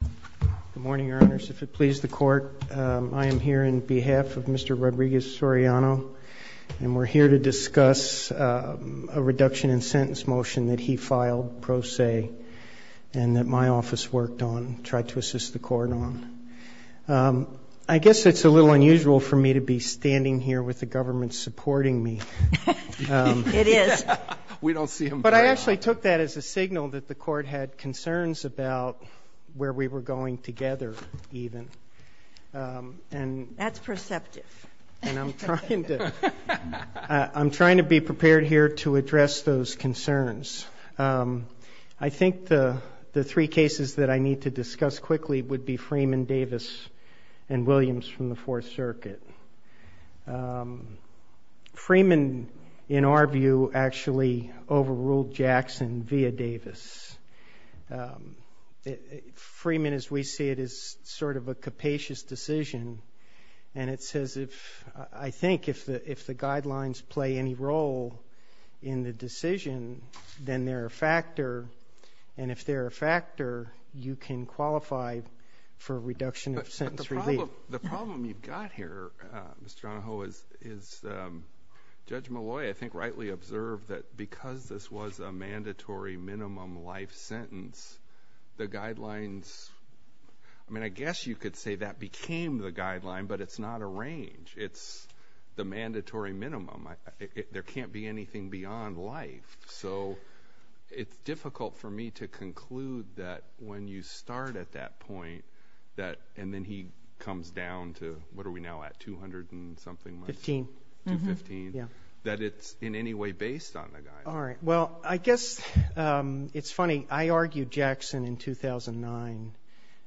Good morning, Your Honors. If it pleases the Court, I am here on behalf of Mr. Rodriguez-Soriano, and we're here to discuss a reduction in sentence motion that he filed pro se and that my office worked on, tried to assist the Court on. I guess it's a little unusual for me to be standing here with the government supporting me. It is. We don't see him very often. But I actually took that as a signal that the Court had concerns about where we were going together, even. That's perceptive. And I'm trying to be prepared here to address those concerns. I think the three cases that I need to discuss quickly would be Freeman, Davis, and Williams from the Fourth Circuit. Freeman, in our view, actually overruled Jackson via Davis. Freeman, as we see it, is sort of a capacious decision. And it's as if, I think, if the guidelines play any role in the decision, then they're a factor. And if they're a factor, you can Mr. Onoho, Judge Malloy, I think, rightly observed that because this was a mandatory minimum life sentence, the guidelines, I mean, I guess you could say that became the guideline, but it's not a range. It's the mandatory minimum. There can't be anything beyond life. So it's difficult for me to conclude that when you start at that point, and then he comes down to, what are we now at, 200 and something months, 215, that it's in any way based on the guidelines. All right. Well, I guess it's funny. I argued Jackson in 2009.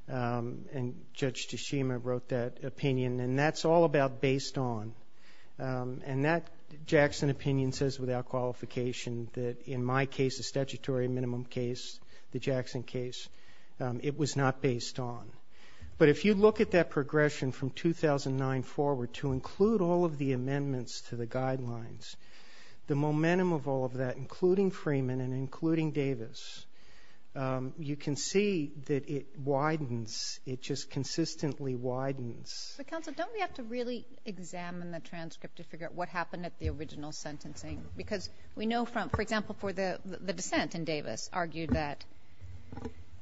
And Judge Tashima wrote that opinion. And that's all about based on. And that Jackson opinion says without qualification that in my case, the statutory minimum case, the Jackson case, it was not based on. But if you look at that progression from 2009 forward to include all of the amendments to the guidelines, the momentum of all of that, including Freeman and including Davis, you can see that it widens. It just consistently widens. But counsel, don't we have to really examine the transcript to figure out what happened at the original sentencing? Because we know from, for example, for the dissent in Davis argued that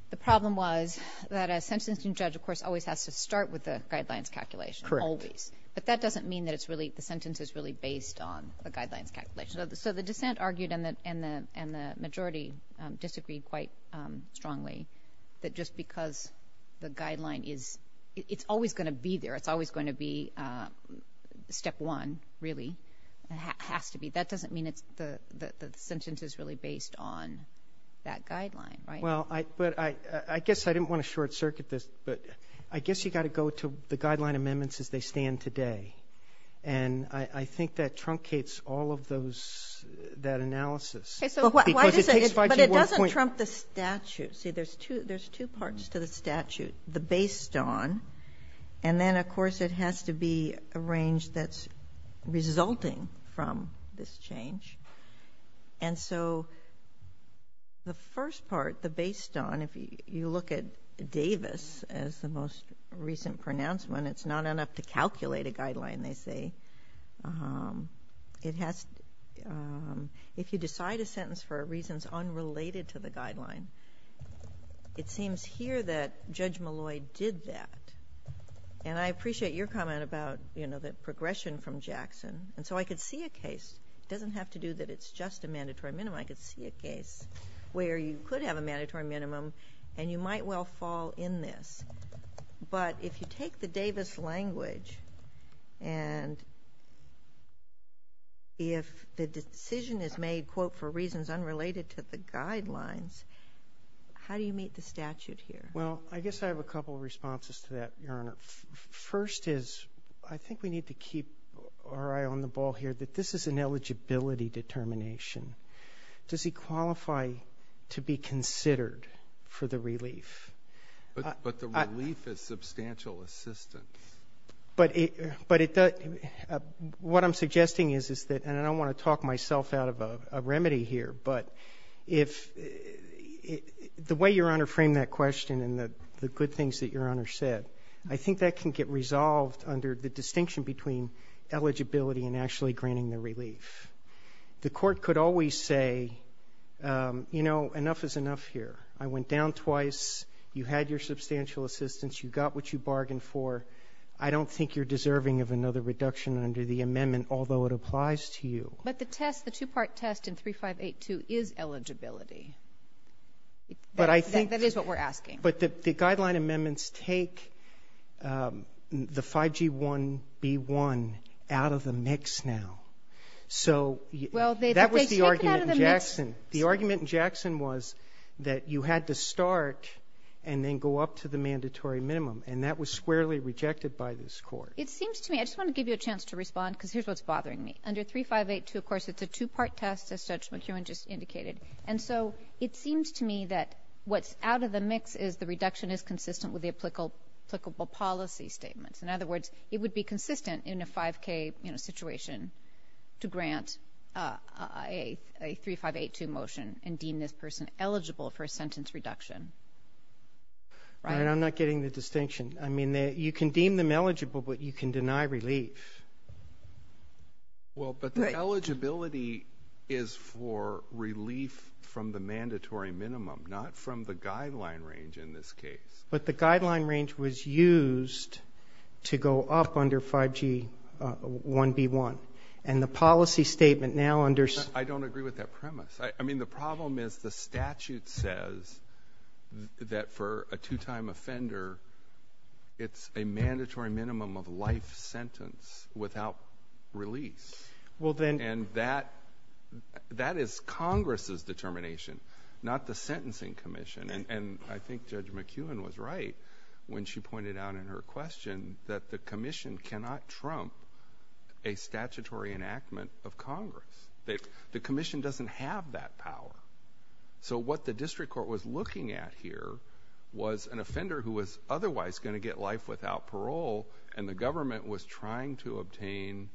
the problem was that a sentencing judge, of course, always has to start with the guidelines calculation. Correct. Always. But that doesn't mean that it's really, the sentence is really based on the guidelines calculation. So the dissent argued and the majority disagreed quite strongly that just because the guideline is, it's always going to be there. It's always going to be step one, really, has to be. That doesn't mean it's the sentence is really based on that guideline, right? Well, but I guess I didn't want to short-circuit this, but I guess you got to go to the guideline amendments as they stand today. And I think that truncates all of those, that analysis. But why does it, but it doesn't trump the statute. See, there's two parts to the statute, the based on, and then, of course, it has to be a range that's resulting from this change. And so the first part, the based on, if you look at Davis as the most recent pronouncement, it's not enough to calculate a guideline, they say. It has, if you decide a sentence for reasons unrelated to the guideline, it seems here that Judge Malloy did that. And I appreciate your comment about, you know, the progression from Jackson. And so I could see a case, it doesn't have to do that it's just a mandatory minimum, I could see a case where you could have a mandatory minimum and you might well fall in this. But if you take the Davis language and if the decision is made, quote, for reasons unrelated to the guidelines, how do you meet the statute here? Well, I guess I have a couple of responses to that, Your Honor. First is, I think we need to keep our eye on the ball here that this is an eligibility determination. Does he qualify to be considered for the relief? But the relief is substantial assistance. But it does, what I'm suggesting is that, and I don't want to talk myself out of a remedy here, but the way Your Honor framed that question and the good things that Your Honor said, I think that can get resolved under the distinction between eligibility and actually granting the relief. The court could always say, you know, enough is enough here. I went down twice, you had your substantial assistance, you got what you bargained for. I don't think you're deserving of another reduction under the amendment, although it applies to you. But the test, the two-part test in 3582 is eligibility. But I think that is what we're asking. But the guideline amendments take the 5G1B1 out of the mix now. So that was the argument in Jackson. The argument in Jackson was that you had to start and then go up to the mandatory minimum and that was squarely rejected by this court. It seems to me, I just want to give you a chance to respond because here's what's bothering me. Under 3582, of course, it's a two-part test as Judge McEwen just indicated. And so it seems to me that what's out of the mix is the reduction is consistent with the applicable policy statements. In other words, it would be consistent in a 5K, you know, situation to grant a 3582 motion and deem this person eligible for a sentence reduction. And I'm not getting the distinction. I mean, you can deem them eligible, but you can deny relief. Well, but the eligibility is for relief from the mandatory minimum, not from the guideline range in this case. But the guideline range was used to go up under 5G1B1. And the policy statement now under... I don't agree with that premise. I mean, the problem is the statute says that for a two-time offender, it's a mandatory minimum of life sentence without release. And that is Congress's determination, not the sentencing commission. And I think Judge McEwen was right when she pointed out in her question that the commission cannot trump a statutory enactment of Congress. The commission doesn't have that power. So what the district court was looking at here was an offender who was otherwise going to get life without parole, and the government was trying to obtain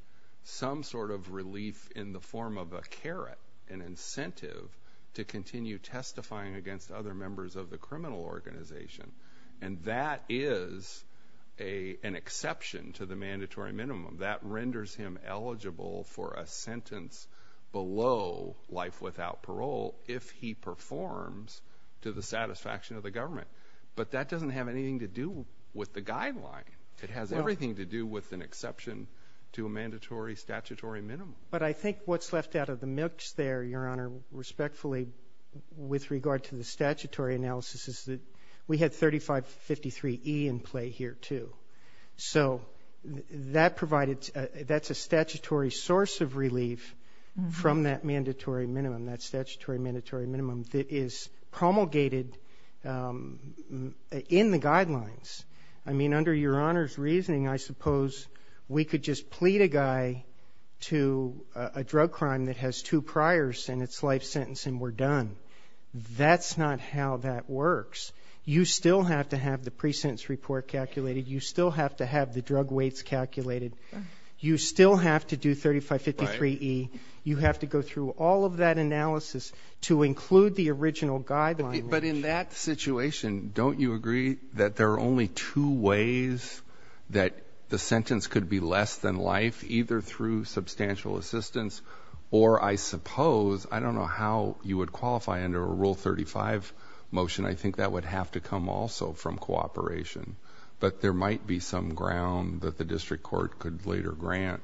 some sort of relief in the form of a carrot, an incentive to continue testifying against other members of the criminal organization. And that is an exception to the mandatory minimum. That renders him eligible for a sentence below life without parole if he performs to the satisfaction of the government. But that doesn't have anything to do with the guideline. It has everything to do with an exception to a mandatory statutory minimum. But I think what's left out of the mix there, Your Honor, respectfully, with regard to the statutory analysis, is that we had 3553E in play here, too. So that's a statutory source of relief from that mandatory minimum, that statutory mandatory minimum, that is promulgated in the guidelines. I mean, under Your Honor's reasoning, I suppose we could just plead a guy to a drug crime that has two priors and it's life sentence and we're done. That's not how that works. You still have to have the pre-sentence report calculated. You still have to do 3553E. You have to go through all of that analysis to include the original guideline. But in that situation, don't you agree that there are only two ways that the sentence could be less than life? Either through substantial assistance or, I suppose, I don't know how you would qualify under a Rule 35 motion. I think that would have to come also from cooperation. But there might be some ground that the district court could later grant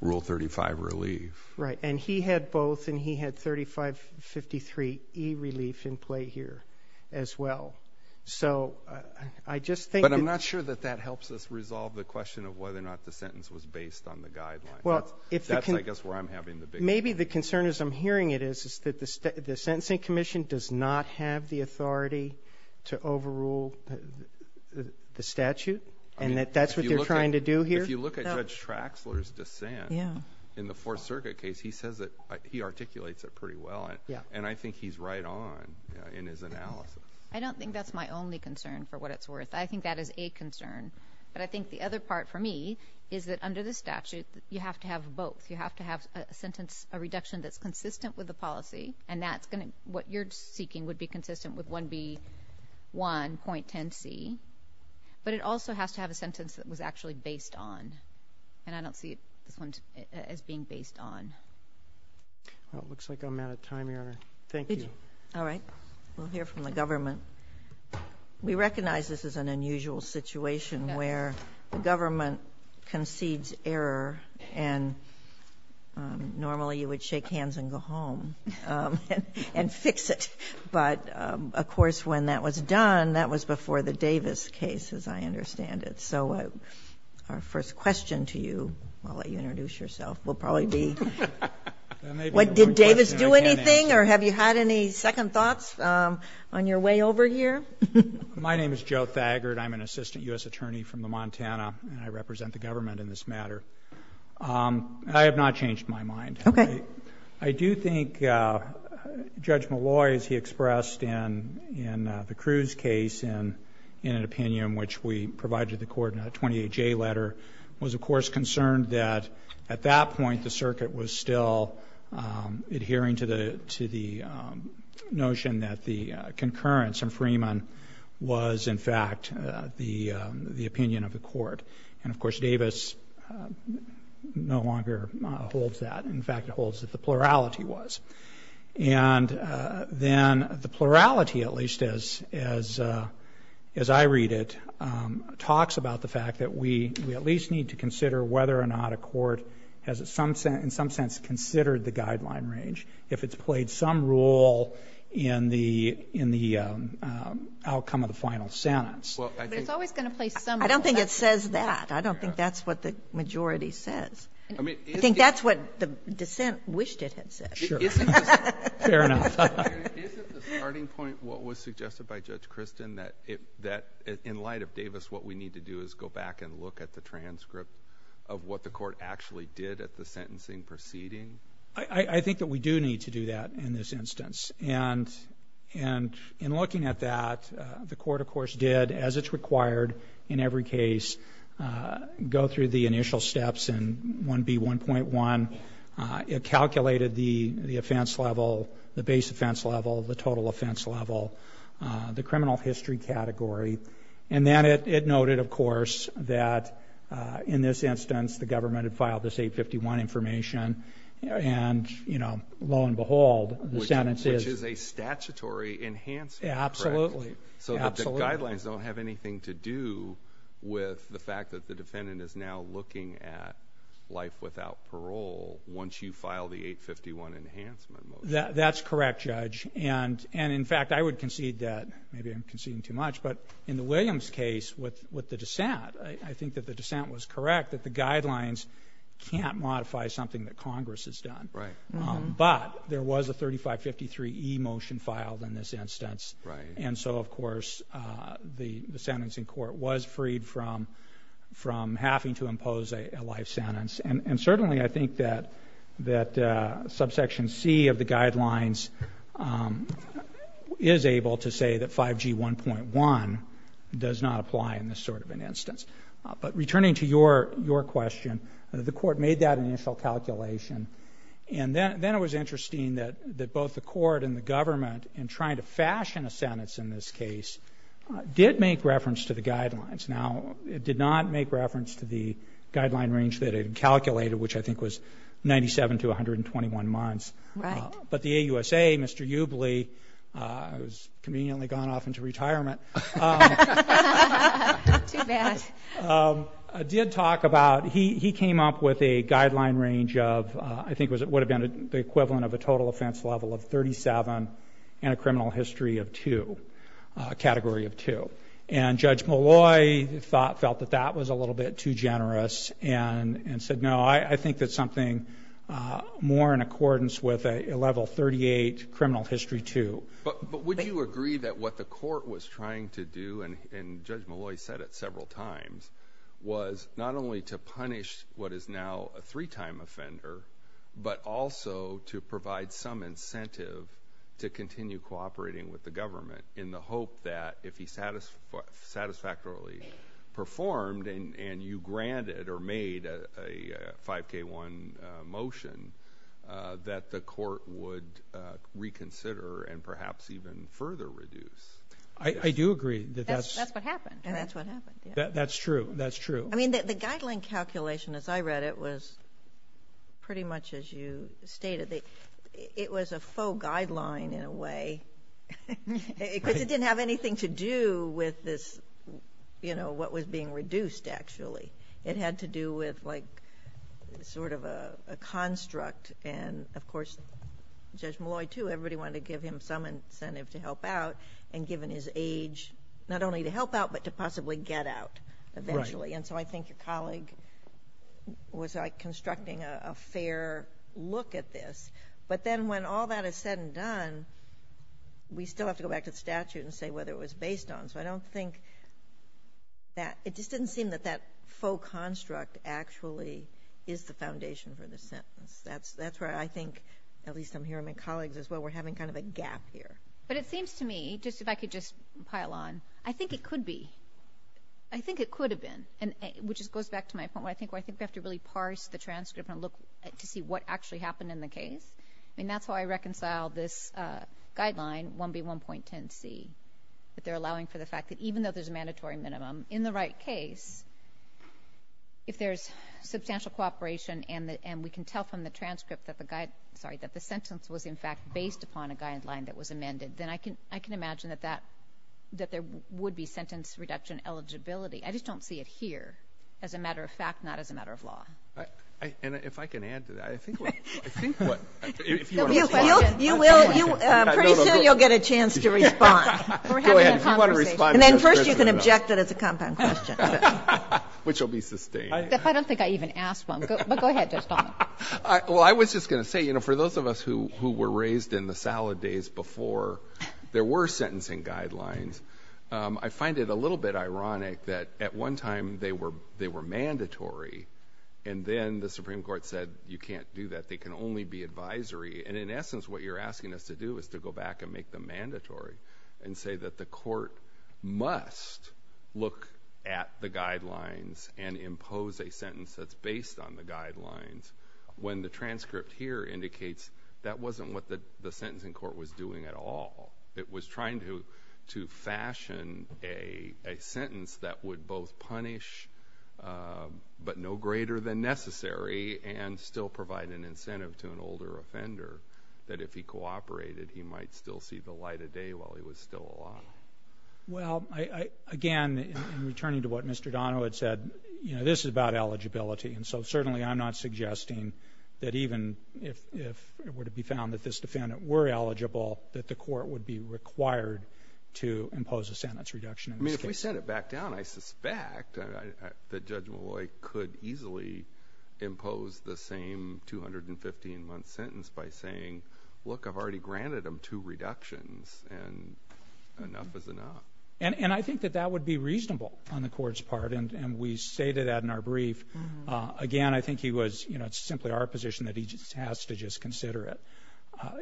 Rule 35 relief. Right. And he had both, and he had 3553E relief in play here as well. So I just think that But I'm not sure that that helps us resolve the question of whether or not the sentence was based on the guidelines. That's, I guess, where I'm having the big... Maybe the concern, as I'm hearing it, is that the Sentencing Commission does not have the statute, and that that's what they're trying to do here? If you look at Judge Traxler's dissent in the Fourth Circuit case, he says that he articulates it pretty well. And I think he's right on in his analysis. I don't think that's my only concern, for what it's worth. I think that is a concern. But I think the other part, for me, is that under the statute, you have to have both. You have to have a sentence, a reduction that's consistent with the policy, and that's going to be consistent with what you're seeking, would be consistent with 1B1.10C. But it also has to have a sentence that was actually based on. And I don't see this one as being based on. Well, it looks like I'm out of time, Your Honor. Thank you. All right. We'll hear from the government. We recognize this is an unusual situation where the government concedes error, and normally you would shake hands and go home. And you can fix it. But, of course, when that was done, that was before the Davis case, as I understand it. So our first question to you, I'll let you introduce yourself, will probably be, did Davis do anything, or have you had any second thoughts on your way over here? My name is Joe Thagard. I'm an assistant U.S. attorney from the Montana, and I represent the government in this matter. I have not changed my mind. Okay. I do think Judge Malloy, as he expressed in the Cruz case, in an opinion which we provided the court in a 28-J letter, was, of course, concerned that at that point the circuit was still adhering to the notion that the concurrence in Freeman was, in fact, the opinion of the court was that the plurality was. And then the plurality, at least as I read it, talks about the fact that we at least need to consider whether or not a court has, in some sense, considered the guideline range if it's played some role in the outcome of the final sentence. Well, I think But it's always going to play some role. I don't think it says that. I don't think that's what the majority says. I think that's That's what the dissent wished it had said. Sure. Fair enough. Isn't the starting point what was suggested by Judge Christin, that in light of Davis, what we need to do is go back and look at the transcript of what the court actually did at the sentencing proceeding? I think that we do need to do that in this instance. And in looking at that, the court, of course, did, as it's required in every case, go through the initial steps in 1B1.1. It calculated the offense level, the base offense level, the total offense level, the criminal history category. And then it noted, of course, that in this instance, the government had filed this 851 information. And, you know, lo and behold, the sentence is Absolutely. So the guidelines don't have anything to do with the fact that the defendant is now looking at life without parole once you file the 851 enhancement motion. That's correct, Judge. And in fact, I would concede that, maybe I'm conceding too much, but in the Williams case with the dissent, I think that the dissent was correct, that the guidelines can't modify something that Congress has done. Right. But there was a 3553E motion filed in this instance. Right. And so, of course, the sentencing court was freed from having to impose a life sentence. And certainly I think that subsection C of the guidelines is able to say that 5G1.1 does not apply in this sort of an instance. But returning to your question, the court made that initial calculation. And then it was interesting that both the court and the government, in trying to fashion a sentence in this case, did make reference to the guidelines. Now, it did not make reference to the guideline range that it had calculated, which I think was 97 to 121 months. Right. But the AUSA, Mr. Ubley, who has conveniently gone off into retirement, did talk about, he came up with a guideline range of, I think it would have been the equivalent of a total offense level of 37 and a criminal history of 2, a category of 2. And Judge Molloy felt that that was a little bit too generous and said, no, I think that's something more in accordance with a level 38 criminal history 2. But would you agree that what the court was trying to do, and Judge Molloy said it several times, was not only to punish what is now a three-time offender, but also to provide some incentive to continue cooperating with the government in the hope that if he satisfactorily performed and you granted or made a 5K1 motion, that the court would reconsider and perhaps even further reduce? I do agree that that's... That's what happened. And that's what happened, yeah. That's true. That's true. I mean, the guideline calculation, as I read it, was pretty much as you stated. It was a faux guideline in a way, because it didn't have anything to do with this, you know, what was being reduced, actually. It had to do with, like, sort of a construct and, of course, Judge Molloy, too, everybody wanted to give him some incentive to help out, and given his age, not only to help out but to possibly get out eventually. And so I think your colleague was, like, constructing a fair look at this, but then when all that is said and done, we still have to go back to the statute and say whether it was based on. So I don't think that... It just didn't seem that that faux construct actually is the foundation for the sentence. That's where I think, at least I'm hearing my colleagues as well, we're having kind of a gap here. But it seems to me, just if I could just pile on, I think it could be, I think it could have been, which just goes back to my point where I think we have to really parse the transcript and look to see what actually happened in the case. I mean, that's how I reconciled this guideline, 1B1.10C, that they're allowing for the fact that even though there's a mandatory minimum, in the right case, if there's substantial cooperation and we can tell from the transcript that the sentence was in fact based upon a mandate, then I can imagine that that, that there would be sentence reduction eligibility. I just don't see it here as a matter of fact, not as a matter of law. And if I can add to that, I think what, I think what, if you want to respond. You will, pretty soon you'll get a chance to respond. Go ahead. If you want to respond. And then first you can object that it's a compound question. Which will be sustained. I don't think I even asked one, but go ahead, Judge Domenico. Well, I was just going to say, you know, for those of us who, who were raised in the salad days before there were sentencing guidelines, I find it a little bit ironic that at one time they were, they were mandatory. And then the Supreme Court said, you can't do that. They can only be advisory. And in essence, what you're asking us to do is to go back and make them mandatory and say that the court must look at the guidelines and impose a sentence that's based on the When the transcript here indicates that wasn't what the sentencing court was doing at all. It was trying to, to fashion a sentence that would both punish, but no greater than necessary and still provide an incentive to an older offender that if he cooperated, he might still see the light of day while he was still alive. Well, I, again, in returning to what Mr. Donohue had said, you know, this is about eligibility. And so certainly I'm not suggesting that even if, if it were to be found that this defendant were eligible, that the court would be required to impose a sentence reduction. I mean, if we sent it back down, I suspect that Judge Malloy could easily impose the same 215 month sentence by saying, look, I've already granted them two reductions and enough is enough. And, and I think that that would be reasonable on the court's part. And, and we say to that in our brief, again, I think he was, you know, it's simply our position that he just has to just consider it.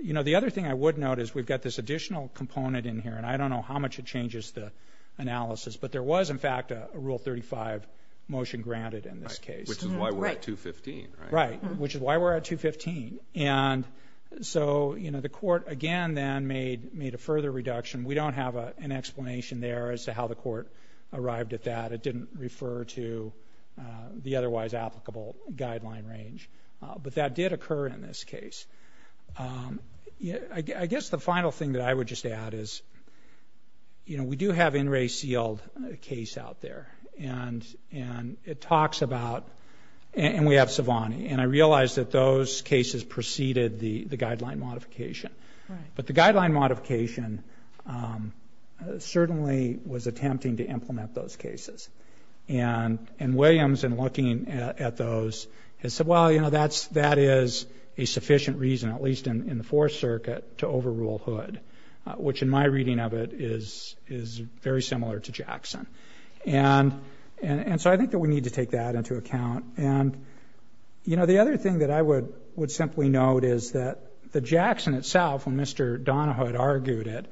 You know, the other thing I would note is we've got this additional component in here and I don't know how much it changes the analysis, but there was in fact a rule 35 motion granted in this case, which is why we're at 215, which is why we're at 215. And so, you know, the court again, then made, made a further reduction. We don't have an explanation there as to how the court arrived at that. It didn't refer to the otherwise applicable guideline range, but that did occur in this case. Yeah. I guess the final thing that I would just add is, you know, we do have in-ray sealed case out there and, and it talks about, and we have Savani and I realized that those cases preceded the, the guideline modification, but the guideline modification certainly was attempting to implement those cases. And Williams in looking at those has said, well, you know, that's, that is a sufficient reason at least in the Fourth Circuit to overrule Hood, which in my reading of it is, is very similar to Jackson. And so I think that we need to take that into account. And you know, the other thing that I would, would simply note is that the Jackson itself, when Mr. Donahue had argued it,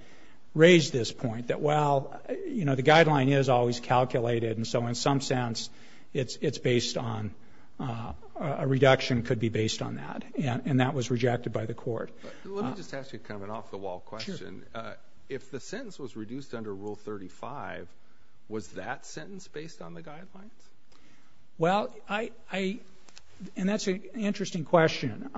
raised this point that, well, you know, the guideline is always calculated. And so in some sense it's, it's based on a reduction could be based on that. And that was rejected by the court. Let me just ask you kind of an off the wall question. If the sentence was reduced under rule 35, was that sentence based on the guidelines? Well, I, I, and that's an interesting question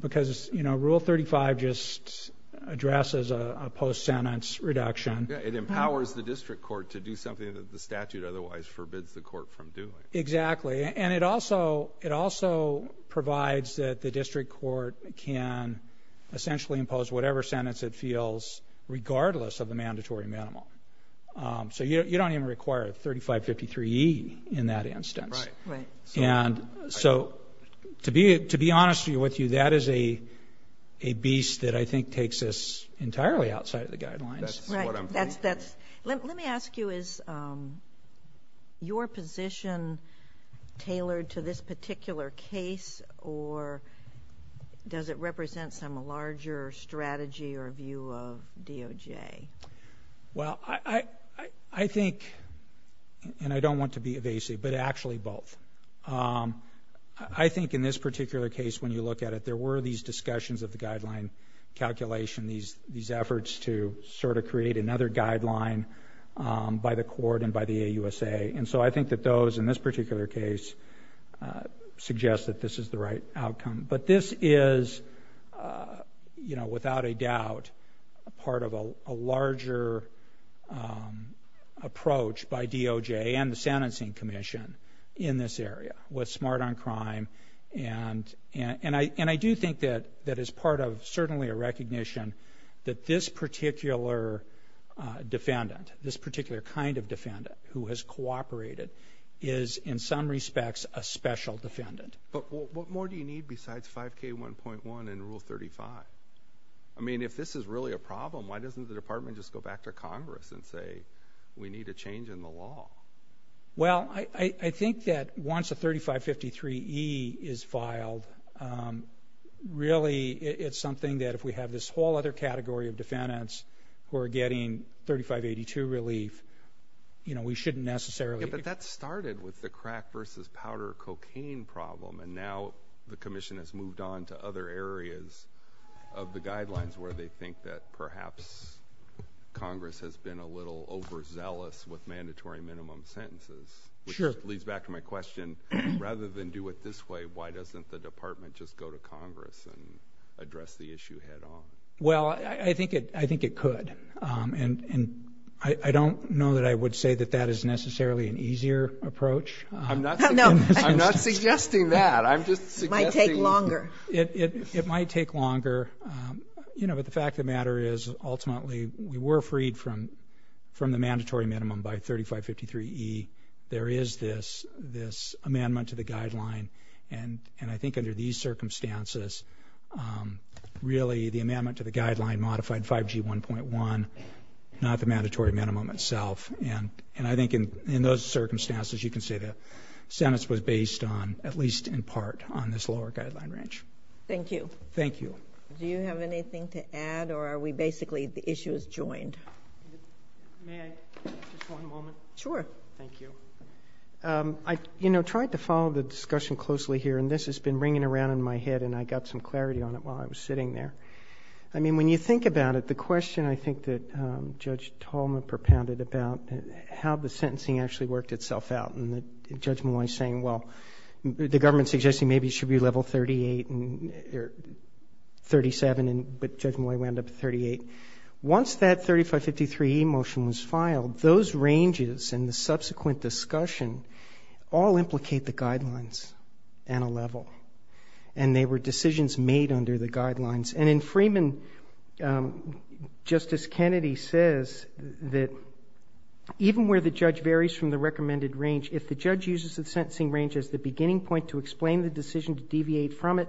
because it's, you know, rule 35 just addresses a post-sentence reduction. It empowers the district court to do something that the statute otherwise forbids the court from doing. Exactly. And it also, it also provides that the district court can essentially impose whatever sentence it feels regardless of the mandatory minimal. So you don't even require 3553E in that instance. Right. Right. And so to be, to be honest with you, that is a, a beast that I think takes us entirely outside of the guidelines. Right. That's, that's. Let me ask you, is your position tailored to this particular case or does it represent some larger strategy or view of DOJ? Well, I, I, I think, and I don't want to be evasive, but actually both. I think in this particular case, when you look at it, there were these discussions of the guideline calculation, these, these efforts to sort of create another guideline by the court and by the AUSA. And so I think that those in this particular case suggest that this is the right outcome. But this is, you know, without a doubt, a part of a larger approach by DOJ and the sentencing commission in this area was smart on crime. And I, and I do think that that is part of certainly a recognition that this particular defendant, this particular kind of defendant who has cooperated is in some respects a special defendant. But what more do you need besides 5K1.1 and Rule 35? I mean, if this is really a problem, why doesn't the department just go back to Congress and say we need a change in the law? Well, I, I think that once a 3553E is filed, really it's something that if we have this whole other category of defendants who are getting 3582 relief, you know, we shouldn't necessarily. But that started with the crack versus powder cocaine problem. And now the commission has moved on to other areas of the guidelines where they think that perhaps Congress has been a little overzealous with mandatory minimum sentences. Which leads back to my question, rather than do it this way, why doesn't the department just go to Congress and address the issue head on? Well, I think it, I think it could. And, and I don't know that I would say that that is necessarily an easier approach. I'm not, I'm not suggesting that. I'm just suggesting. It might take longer. It, it, it might take longer, you know, but the fact of the matter is ultimately we were freed from, from the mandatory minimum by 3553E. There is this, this amendment to the guideline and, and I think under these circumstances, really the amendment to the guideline modified 5G 1.1, not the mandatory minimum itself. And, and I think in, in those circumstances, you can say that sentence was based on, at least in part, on this lower guideline range. Thank you. Thank you. Do you have anything to add or are we basically, the issue is joined? May I, just one moment? Sure. Thank you. I, you know, tried to follow the discussion closely here and this has been ringing around my head and I got some clarity on it while I was sitting there. I mean, when you think about it, the question I think that Judge Tolma propounded about how the sentencing actually worked itself out and that Judge Molloy's saying, well, the government's suggesting maybe it should be level 38 and, or 37 and, but Judge Molloy wound up at 38. Once that 3553E motion was filed, those ranges and the subsequent discussion all implicate the guidelines and a level. And they were decisions made under the guidelines. And in Freeman, Justice Kennedy says that even where the judge varies from the recommended range, if the judge uses the sentencing range as the beginning point to explain the decision to deviate from it,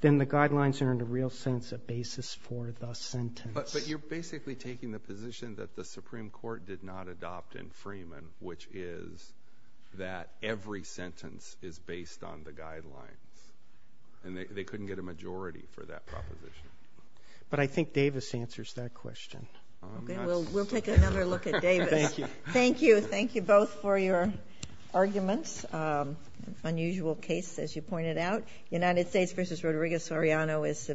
then the guidelines are in a real sense a basis for the sentence. But, but you're basically taking the position that the Supreme Court did not adopt in Freeman, which is that every sentence is based on the guidelines and they couldn't get a majority for that proposition. But I think Davis answers that question. Okay, well, we'll take another look at Davis. Thank you. Thank you both for your arguments, unusual case, as you pointed out. United States v. Rodriguez-Oriano is